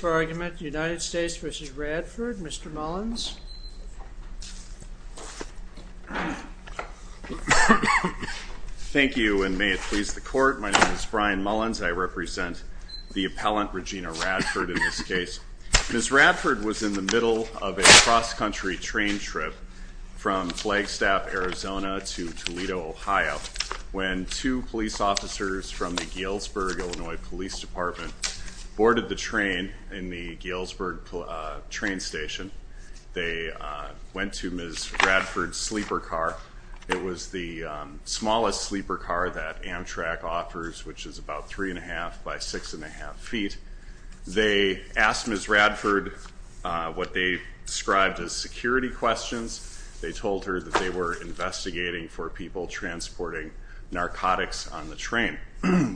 United States v. Radford. Mr. Mullins. Thank you and may it please the court my name is Brian Mullins I represent the appellant Regina Radford in this case. Ms. Radford was in the middle of a cross-country train trip from Flagstaff Arizona to Toledo Ohio when two police officers from the Galesburg Illinois Police Department boarded the train in the Galesburg train station. They went to Ms. Radford's sleeper car. It was the smallest sleeper car that Amtrak offers which is about three and a half by six and a half feet. They asked Ms. Radford what they described as security questions. They told her that they were investigating for people transporting narcotics on the train.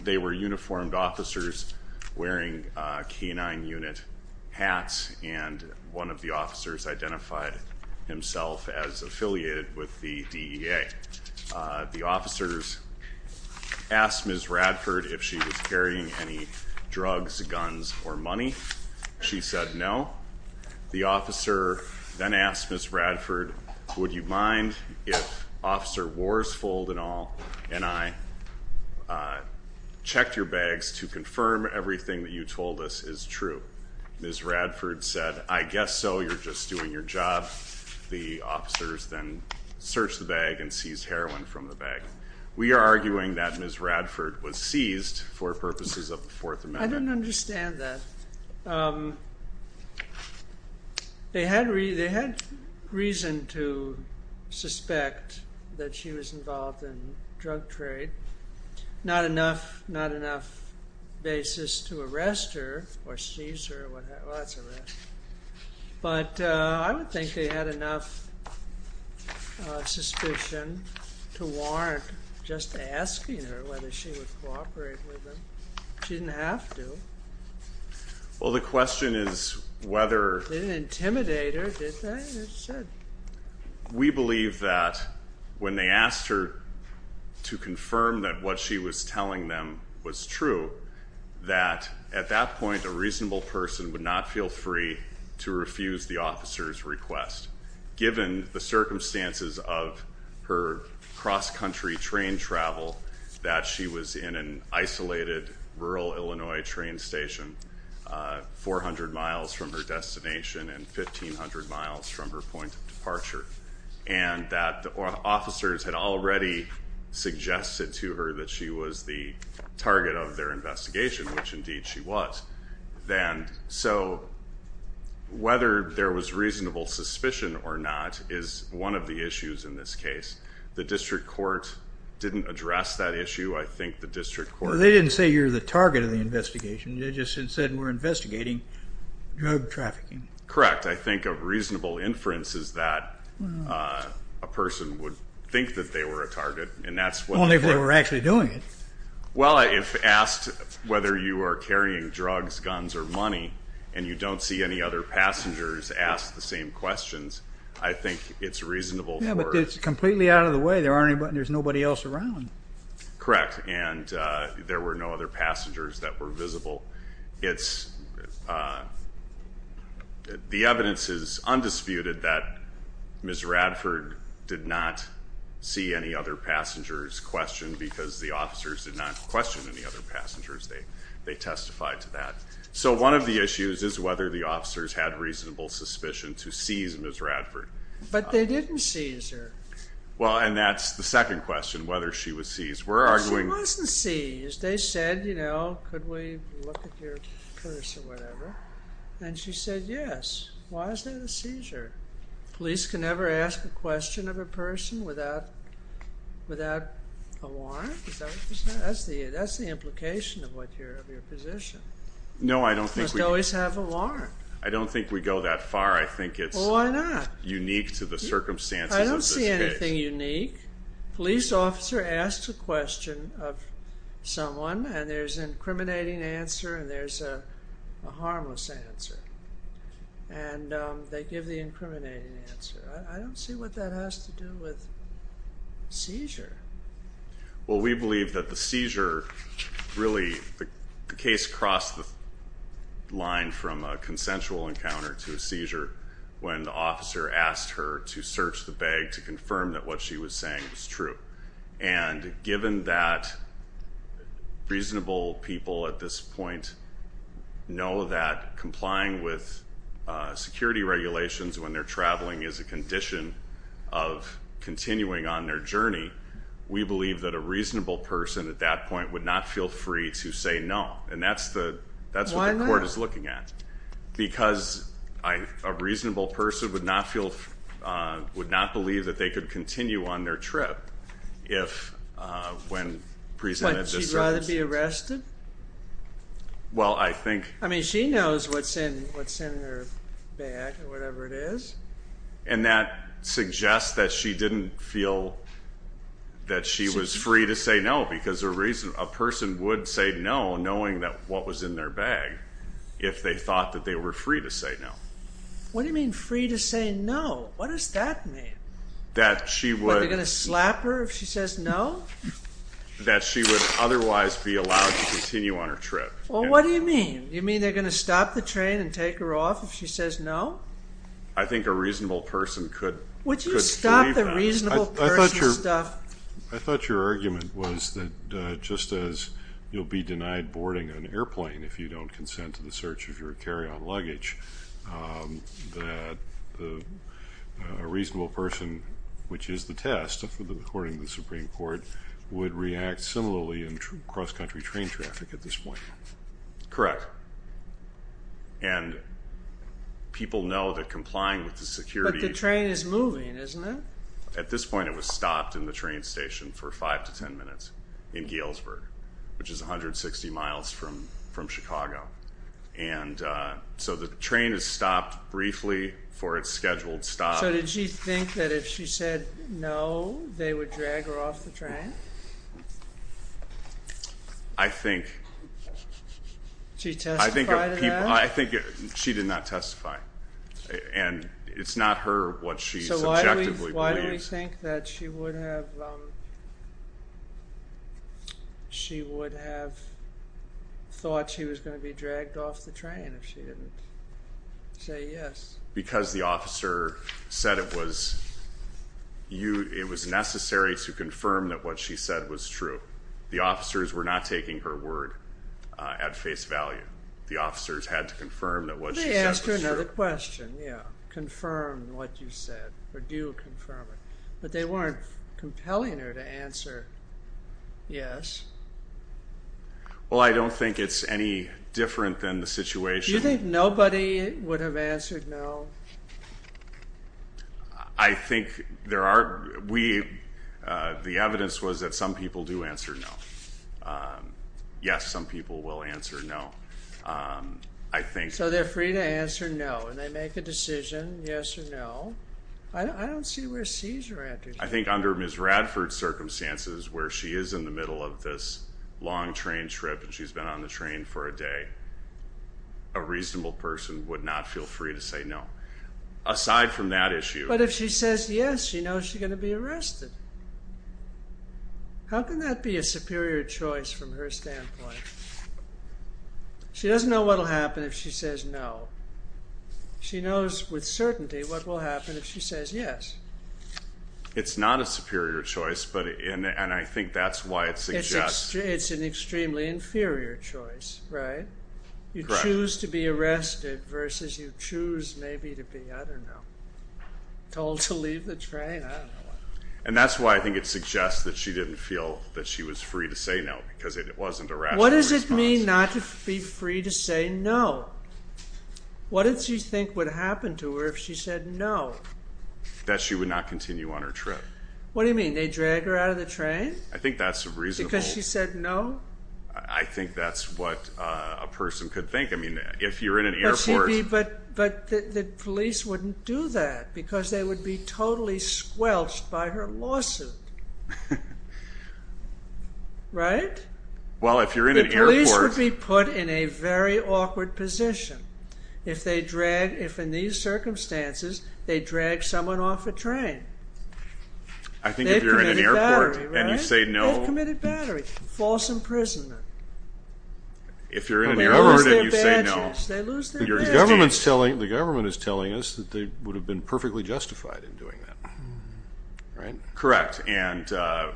They were uniformed officers wearing canine unit hats and one of the officers identified himself as affiliated with the DEA. The officers asked Ms. Radford if she was carrying any drugs, guns, or money. She said no. The officer then asked Ms. checked your bags to confirm everything that you told us is true. Ms. Radford said I guess so you're just doing your job. The officers then searched the bag and seized heroin from the bag. We are arguing that Ms. Radford was seized for purposes of the Fourth Amendment. I don't understand that. They had reason to suspect that she was involved in drug trade. Not enough basis to arrest her or seize her. But I don't think they had enough suspicion to warrant just asking her whether she would cooperate with them. She didn't have to. Well the question is whether... Didn't intimidate her, did they? We believe that when they asked her to confirm that what she was telling them was true that at that point a reasonable person would not feel free to refuse the officer's request given the circumstances of her cross-country train travel that she was in an isolated rural Illinois train station 400 miles from her destination and 1,500 miles from her point of departure and that the officers had already suggested to her that she was the target of their investigation which indeed she was. Then so whether there was reasonable suspicion or not is one of the issues in this case. The district court didn't address that issue. I think the district court... They didn't say you're the target of the investigation. They just said we're investigating drug trafficking. Correct. I think a reasonable inference is that a person would think that they were a target and that's what... Only if they were actually doing it. Well if asked whether you are carrying drugs, guns, or money and you don't see any other passengers ask the same questions I think it's reasonable... Yeah but it's completely out of the way. There aren't there's nobody else around. Correct and there were no other passengers that were visible. It's the evidence is undisputed that Ms. Radford did not see any other passengers questioned because the officers did not question any other passengers. They testified to that. So one of the issues is whether the officers had reasonable suspicion to seize Ms. Radford. But they didn't seize her. Well and that's the second question whether she was seized. We're arguing... She wasn't seized. They said you know could we look at your purse or whatever and she said yes. Why is that a seizure? Police can never ask a question of a person without a warrant. Is that what you said? That's the implication of your position. No I don't think... You must always have a warrant. I don't think we go that far. I think it's unique to the circumstances. I don't see anything unique. Police officer asks a question of someone and there's an incriminating answer and there's a harmless answer and they give the incriminating answer. I don't see what that has to do with seizure. Well we believe that the seizure really the case crossed the line from a consensual encounter to a seizure when the officer asked her to search the bag to confirm that what she was saying was true. And given that reasonable people at this point know that complying with security regulations when they're traveling is a condition of continuing on their journey, we believe that a reasonable person at that point would not feel free to say no. And that's what the court is looking at. Because a reasonable person would not feel, would not believe that they could continue on their trip if when presented... Would she rather be arrested? Well I think... I mean she knows what's in what's in her bag or whatever it is. And that suggests that she didn't feel that she was free to say no because a reason a person would say no knowing that what was in their bag if they thought that they were free to say no. What do you mean free to say no? What does that mean? That she would... That they're gonna slap her if she says no? That she would otherwise be allowed to continue on her trip. Well what do you mean? You mean they're gonna stop the train and take her off if she says no? I thought your argument was that just as you'll be denied boarding an airplane if you don't consent to the search of your carry-on luggage, that a reasonable person, which is the test according to the Supreme Court, would react similarly in cross-country train traffic at this point. Correct. And people know that complying with the security... But the train is moving, isn't it? At this point it was stopped in the train station for five to ten minutes in Galesburg, which is 160 miles from Chicago. And so the train is stopped briefly for its scheduled stop. So did she think that if she said no they would drag her off the train? I think... Did she testify to that? I think she did not testify. And it's not her what she subjectively believes. So why do we think that she would have thought she was going to be dragged off the train if she didn't say yes? Because the officer said it was necessary to confirm that what she said was true. The officers were not taking her word at face value. The officers had to confirm that what she said was true. They asked her another question. But they weren't compelling her to answer yes. Well, I don't think it's any different than the situation... Do you think nobody would have answered no? I think there are... We... The evidence was that some people do answer no. Yes, some people will answer no. I think... So they're free to answer no. And they make a decision, yes or no. I don't see where Cesar answered no. I think under Ms. Radford's circumstances, where she is in the middle of this long train trip, and she's been on the train for a day, a reasonable person would not feel free to say no. Aside from that issue... But if she says yes, she knows she's going to be arrested. How can that be a superior choice from her standpoint? She doesn't know what will happen if she says no. She knows with what will happen if she says yes. It's not a superior choice, but... And I think that's why it suggests... It's an extremely inferior choice, right? You choose to be arrested versus you choose maybe to be, I don't know, told to leave the train? I don't know. And that's why I think it suggests that she didn't feel that she was free to say no, because it wasn't a rational response. What does it mean not to be free to say no? What did she think would happen to her if she said no? That she would not continue on her trip. What do you mean? They drag her out of the train? I think that's reasonable. Because she said no? I think that's what a person could think. I mean, if you're in an airport... But the police wouldn't do that, because they would be totally squelched by her lawsuit. Right? Well, if you're in an airport... The police would be put in a very awkward position if they drag, if in these circumstances, they drag someone off a train. I think if you're in an airport and you say no... They've committed battery, right? They've committed battery. False imprisonment. If you're in an airport and you say no... They lose their badges. They lose their badges. The government is telling us that they would have been perfectly justified in doing that. Correct. And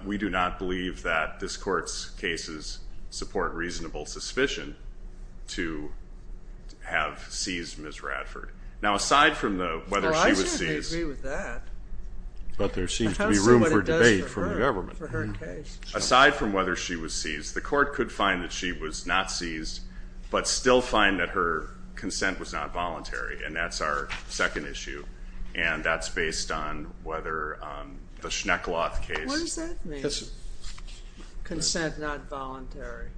we do not believe that this court's cases support reasonable suspicion to have seized Ms. Radford. Now, aside from whether she was seized... Well, I certainly agree with that. But there seems to be room for debate from the government. Aside from whether she was seized, the court could find that she was not seized, but still find that her consent was not voluntary. And that's our second issue. And that's based on whether the Schneckloth case... What does that mean? Consent not voluntary.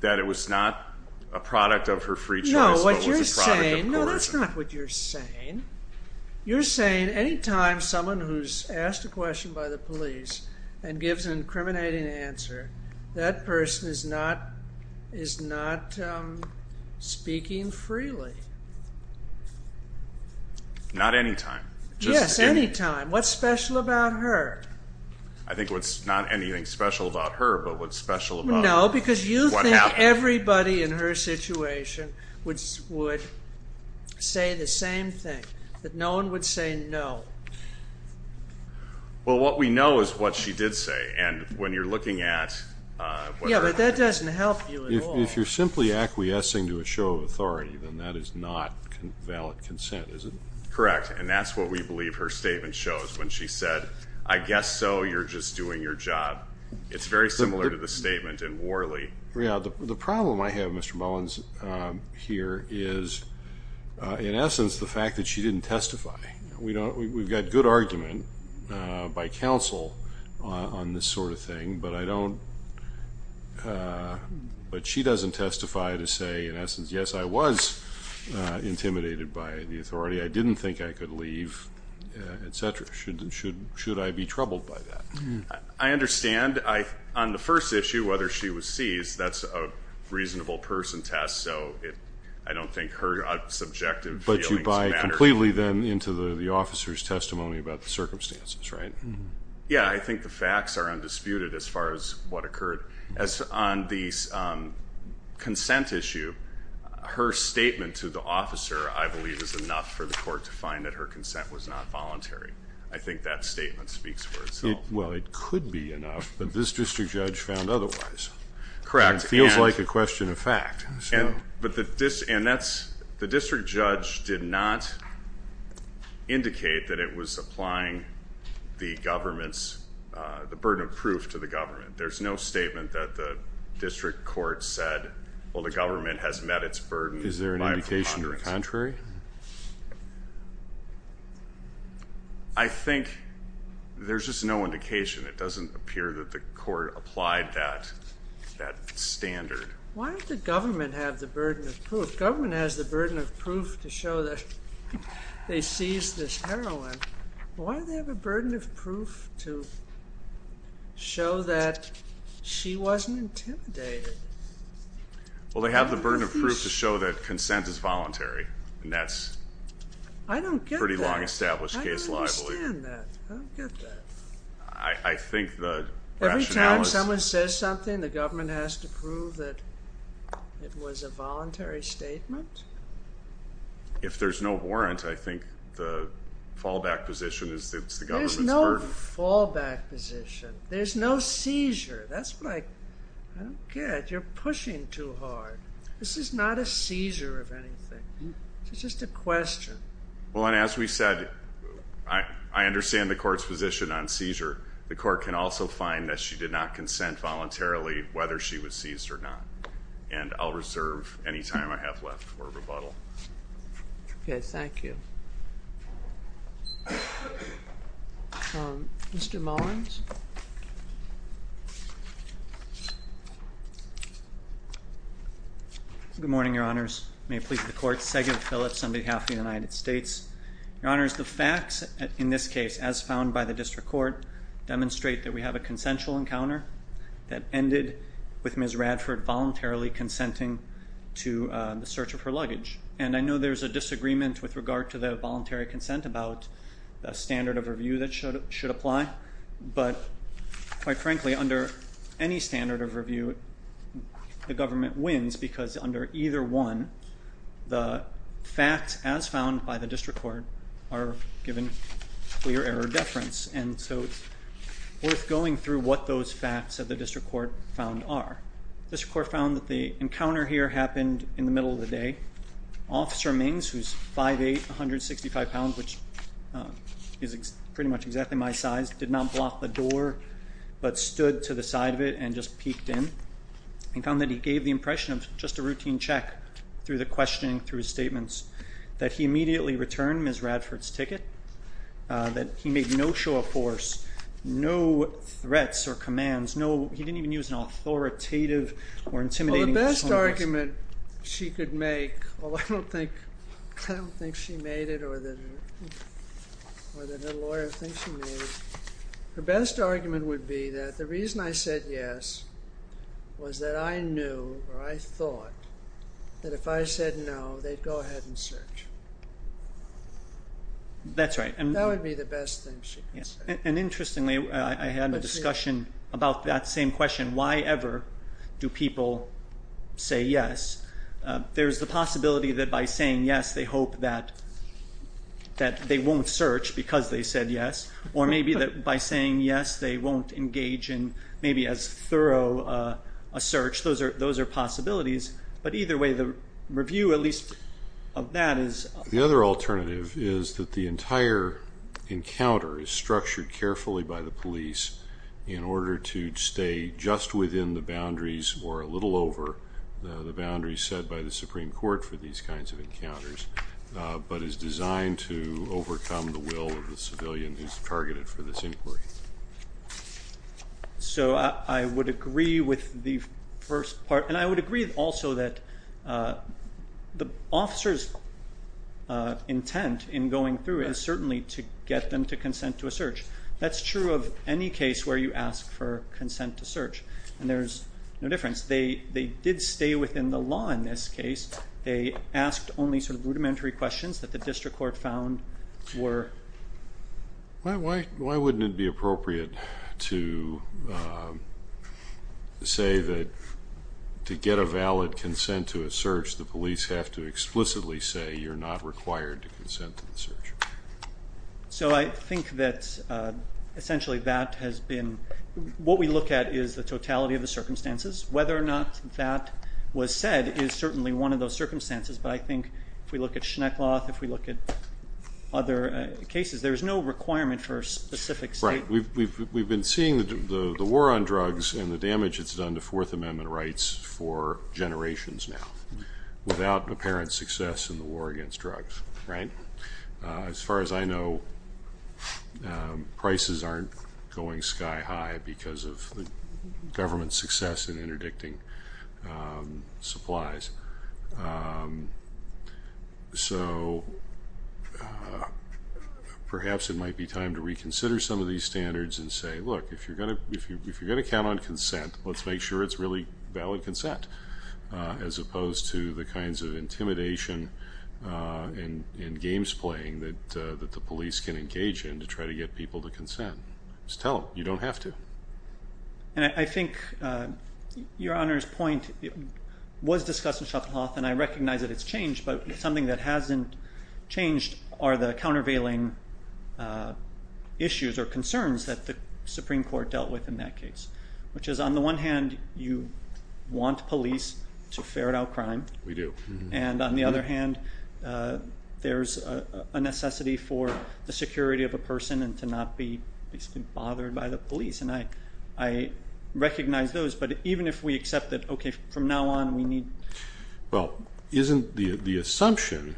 That it was not a product of her free choice, but was a product of coercion. No, what you're saying... No, that's not what I'm saying. That's not what you're saying. You're saying any time someone who's asked a question by the police and gives an incriminating answer, that person is not speaking freely. Not any time. Yes, any time. What's special about her? I think what's not anything special about her, but what's special about... That no one would say no. Well, what we know is what she did say. And when you're looking at... Yeah, but that doesn't help you at all. If you're simply acquiescing to a show of authority, then that is not valid consent, is it? Correct. And that's what we believe her statement shows when she said, I guess so, you're just doing your job. It's very similar to the statement in Worley. Yeah, the problem I have, Mr. Mullins, here is, in essence, the fact that she didn't testify. We've got good argument by counsel on this sort of thing, but I don't... But she doesn't testify to say, in essence, yes, I was intimidated by the authority. I didn't think I could leave, etc. Should I be troubled by that? I understand. On the first issue, whether she was seized, that's a reasonable person test, so I don't think her subjective feelings matter. But you buy completely, then, into the officer's testimony about the circumstances, right? Yeah, I think the facts are undisputed as far as what occurred. On the consent issue, her statement to the officer, I believe, is enough for the court to find that her consent was not voluntary. I think that statement speaks for itself. Well, it could be enough, but this district judge found otherwise. Correct. It feels like a question of fact. But the district judge did not indicate that it was applying the burden of proof to the government. There's no statement that the district court said, well, the government has met its burden by a preponderance. Is there an indication to the contrary? I think there's just no indication. It doesn't appear that the court applied that standard. Why did the government have the burden of proof? The government has the burden of proof to show that they seized this heroine. Why do they have a burden of proof to show that she wasn't intimidated? Well, they have the burden of proof to show that consent is voluntary, and that's pretty long-established case law, I believe. I don't get that. I don't understand that. I don't get that. I think the rationale is— Every time someone says something, the government has to prove that it was a voluntary statement? If there's no warrant, I think the fallback position is that it's the government's burden. There's no fallback position. There's no seizure. That's what I don't get. You're pushing too hard. This is not a seizure of anything. It's just a question. Well, and as we said, I understand the court's position on seizure. The court can also find that she did not consent voluntarily, whether she was seized or not. And I'll reserve any time I have left for rebuttal. Okay, thank you. Mr. Mullins? Good morning, Your Honors. May it please the Court. Sagan Phillips on behalf of the United States. Your Honors, the facts in this case, as found by the district court, demonstrate that we have a consensual encounter that ended with Ms. Radford voluntarily consenting to the search of her luggage. And I know there's a disagreement with regard to the voluntary consent about a standard of review that should apply. But, quite frankly, under any standard of review, the government wins because under either one, the facts, as found by the district court, are given clear error of deference. And so it's worth going through what those facts of the district court found are. The district court found that the encounter here happened in the middle of the day. Officer Mings, who's 5'8", 165 pounds, which is pretty much exactly my size, did not block the door but stood to the side of it and just peeked in. And found that he gave the impression of just a routine check through the questioning, through his statements, that he immediately returned Ms. Radford's ticket, that he made no show of force, no threats or commands, he didn't even use an authoritative or intimidating tone. Well, the best argument she could make, although I don't think she made it or that her lawyer thinks she made it, her best argument would be that the reason I said yes was that I knew or I thought that if I said no, they'd go ahead and search. That's right. That would be the best thing she could say. And interestingly, I had a discussion about that same question. Why ever do people say yes? There's the possibility that by saying yes, they hope that they won't search because they said yes, or maybe that by saying yes, they won't engage in maybe as thorough a search. Those are possibilities. But either way, the review, at least, of that is. The other alternative is that the entire encounter is structured carefully by the police in order to stay just within the boundaries or a little over the boundaries set by the Supreme Court for these kinds of encounters, but is designed to overcome the will of the civilian who's targeted for this inquiry. So I would agree with the first part, and I would agree also that the officer's intent in going through it is certainly to get them to consent to a search. That's true of any case where you ask for consent to search, and there's no difference. They did stay within the law in this case. They asked only sort of rudimentary questions that the district court found were. Why wouldn't it be appropriate to say that to get a valid consent to a search, the police have to explicitly say you're not required to consent to the search? So I think that essentially that has been. What we look at is the totality of the circumstances. Whether or not that was said is certainly one of those circumstances, but I think if we look at Schneckloth, if we look at other cases, there's no requirement for a specific statement. Right. We've been seeing the war on drugs and the damage it's done to Fourth Amendment rights for generations now, without apparent success in the war against drugs, right? As far as I know, prices aren't going sky high because of the government's success in interdicting supplies. So perhaps it might be time to reconsider some of these standards and say, look, if you're going to count on consent, let's make sure it's really valid consent, as opposed to the kinds of intimidation and games playing that the police can engage in to try to get people to consent. Just tell them, you don't have to. And I think Your Honor's point was discussed in Schenckloth, and I recognize that it's changed, but something that hasn't changed are the countervailing issues or concerns that the Supreme Court dealt with in that case, which is, on the one hand, you want police to ferret out crime. We do. And on the other hand, there's a necessity for the security of a person and to not be bothered by the police, and I recognize those. But even if we accept that, okay, from now on we need... Well, isn't the assumption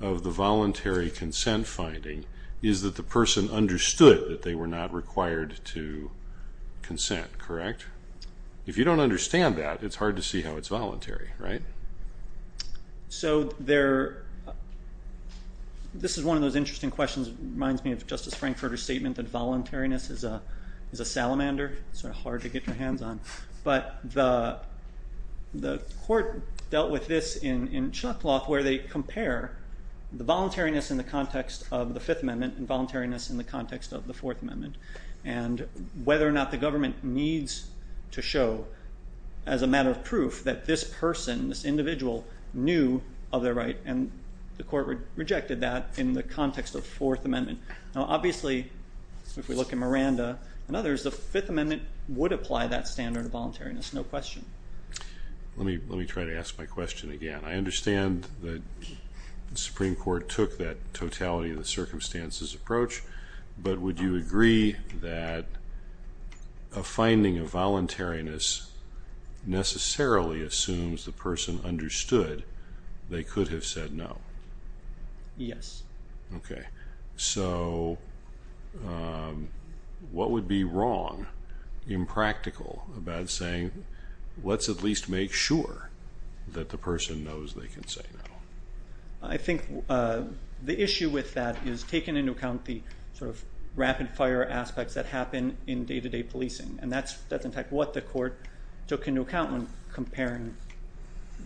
of the voluntary consent finding is that the person understood that they were not required to consent, correct? If you don't understand that, it's hard to see how it's voluntary, right? So this is one of those interesting questions. It reminds me of Justice Frankfurter's statement that voluntariness is a salamander, sort of hard to get your hands on. But the court dealt with this in Schenckloth where they compare the voluntariness in the context of the Fifth Amendment and voluntariness in the context of the Fourth Amendment, and whether or not the government needs to show as a matter of proof that this person, this individual, knew of their right, and the court rejected that in the context of the Fourth Amendment. Now, obviously, if we look at Miranda and others, the Fifth Amendment would apply that standard of voluntariness, no question. Let me try to ask my question again. I understand that the Supreme Court took that totality of the circumstances approach, but would you agree that a finding of voluntariness necessarily assumes the person understood they could have said no? Yes. Okay. So what would be wrong, impractical, about saying, let's at least make sure that the person knows they can say no? I think the issue with that is taking into account the sort of rapid-fire aspects that happen in day-to-day policing, and that's, in fact, what the court took into account when comparing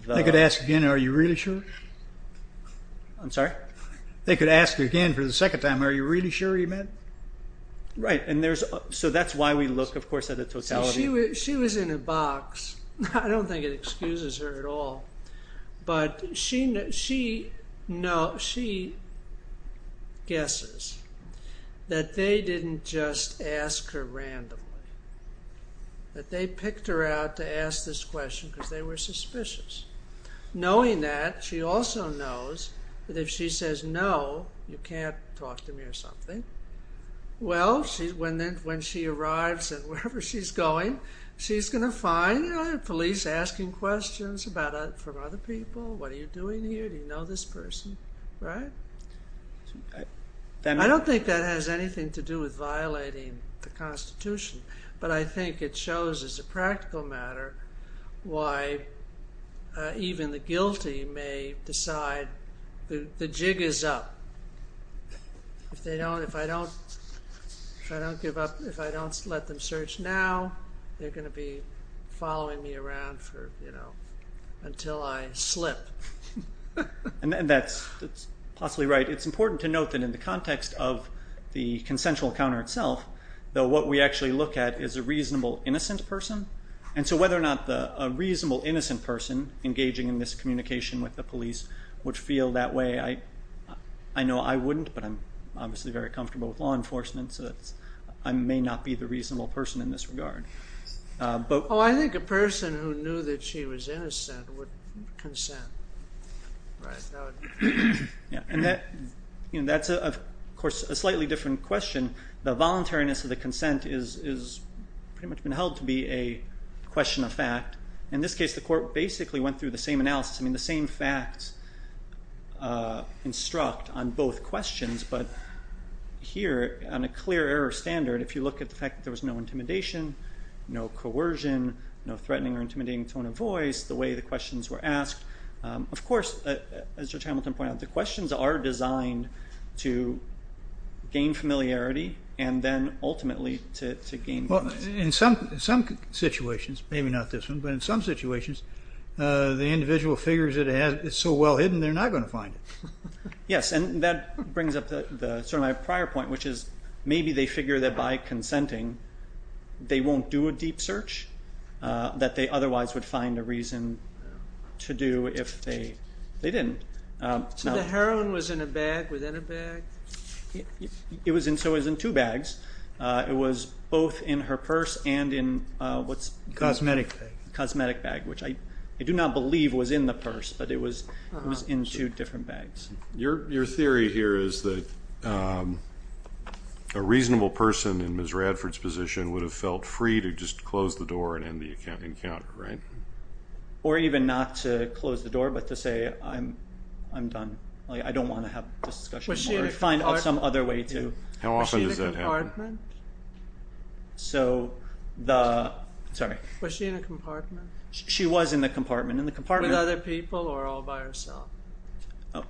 the... If I could ask again, are you really sure? I'm sorry? If I could ask again for the second time, are you really sure you meant? Right. So that's why we look, of course, at the totality. She was in a box. I don't think it excuses her at all, but she guesses that they didn't just ask her randomly, that they picked her out to ask this question because they were suspicious. Knowing that, she also knows that if she says no, you can't talk to me or something. Well, when she arrives and wherever she's going, she's going to find police asking questions from other people. What are you doing here? Do you know this person? Right? But I think it shows as a practical matter why even the guilty may decide the jig is up. If I don't let them search now, they're going to be following me around until I slip. And that's possibly right. It's important to note that in the context of the consensual counter itself, though what we actually look at is a reasonable innocent person. And so whether or not a reasonable innocent person engaging in this communication with the police would feel that way, I know I wouldn't, but I'm obviously very comfortable with law enforcement, so I may not be the reasonable person in this regard. Oh, I think a person who knew that she was innocent would consent. Right. And that's, of course, a slightly different question. The voluntariness of the consent is pretty much been held to be a question of fact. In this case, the court basically went through the same analysis. I mean, the same facts instruct on both questions. But here, on a clear error standard, if you look at the fact that there was no intimidation, no coercion, no threatening or intimidating tone of voice, the way the questions were asked, of course, as Judge Hamilton pointed out, the questions are designed to gain familiarity and then ultimately to gain confidence. Well, in some situations, maybe not this one, but in some situations, the individual figures that it's so well hidden they're not going to find it. Yes, and that brings up sort of my prior point, which is maybe they figure that by consenting, they won't do a deep search that they otherwise would find a reason to do if they didn't. So the heroin was in a bag? Within a bag? It was in two bags. It was both in her purse and in what's- Cosmetic bag. Cosmetic bag, which I do not believe was in the purse, but it was in two different bags. Your theory here is that a reasonable person in Ms. Radford's position would have felt free to just close the door and end the encounter, right? Or even not to close the door, but to say, I'm done. I don't want to have this discussion. Was she in a compartment? Find some other way to- How often does that happen? Was she in a compartment? So the- Was she in a compartment? She was in the compartment. In the compartment- With other people or all by herself?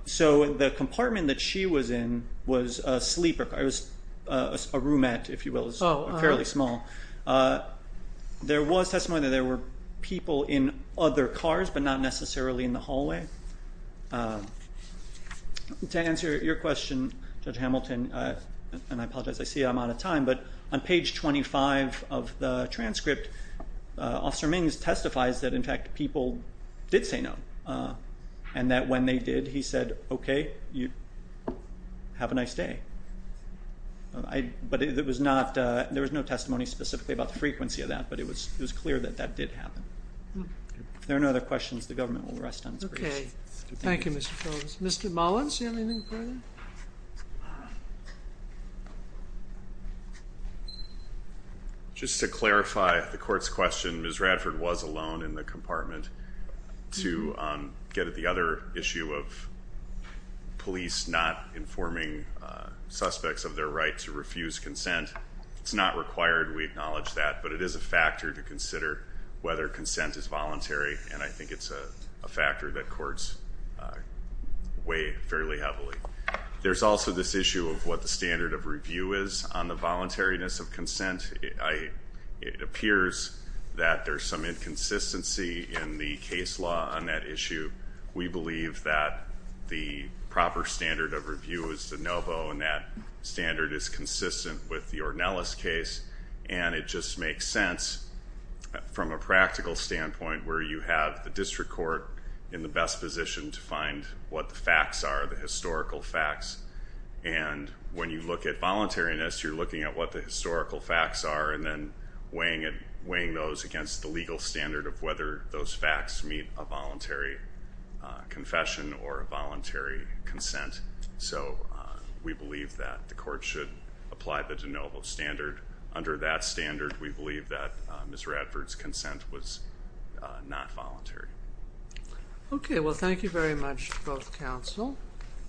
So the compartment that she was in was a sleeper. It was a roomette, if you will. It was fairly small. There was testimony that there were people in other cars, but not necessarily in the hallway. To answer your question, Judge Hamilton, and I apologize, I see I'm out of time, but on page 25 of the transcript, Officer Mings testifies that, in fact, people did say no, and that when they did, he said, okay, have a nice day. But there was no testimony specifically about the frequency of that, but it was clear that that did happen. If there are no other questions, the government will rest on its grace. Okay. Thank you, Mr. Phillips. Mr. Mullins, do you have anything further? Just to clarify the court's question, Ms. Radford was alone in the compartment. To get at the other issue of police not informing suspects of their right to refuse consent, it's not required. We acknowledge that. But it is a factor to consider whether consent is voluntary, and I think it's a factor that courts weigh fairly heavily. There's also this issue of what the standard of review is on the voluntariness of consent. It appears that there's some inconsistency in the case law on that issue. We believe that the proper standard of review is the NOVO, and that standard is consistent with the Ornelas case. And it just makes sense, from a practical standpoint, where you have the district court in the best position to find what the facts are, the historical facts. And when you look at voluntariness, you're looking at what the historical facts are, and then weighing those against the legal standard of whether those facts meet a voluntary confession or a voluntary consent. So we believe that the court should apply the NOVO standard. Under that standard, we believe that Ms. Radford's consent was not voluntary. Okay. Well, thank you very much to both counsel.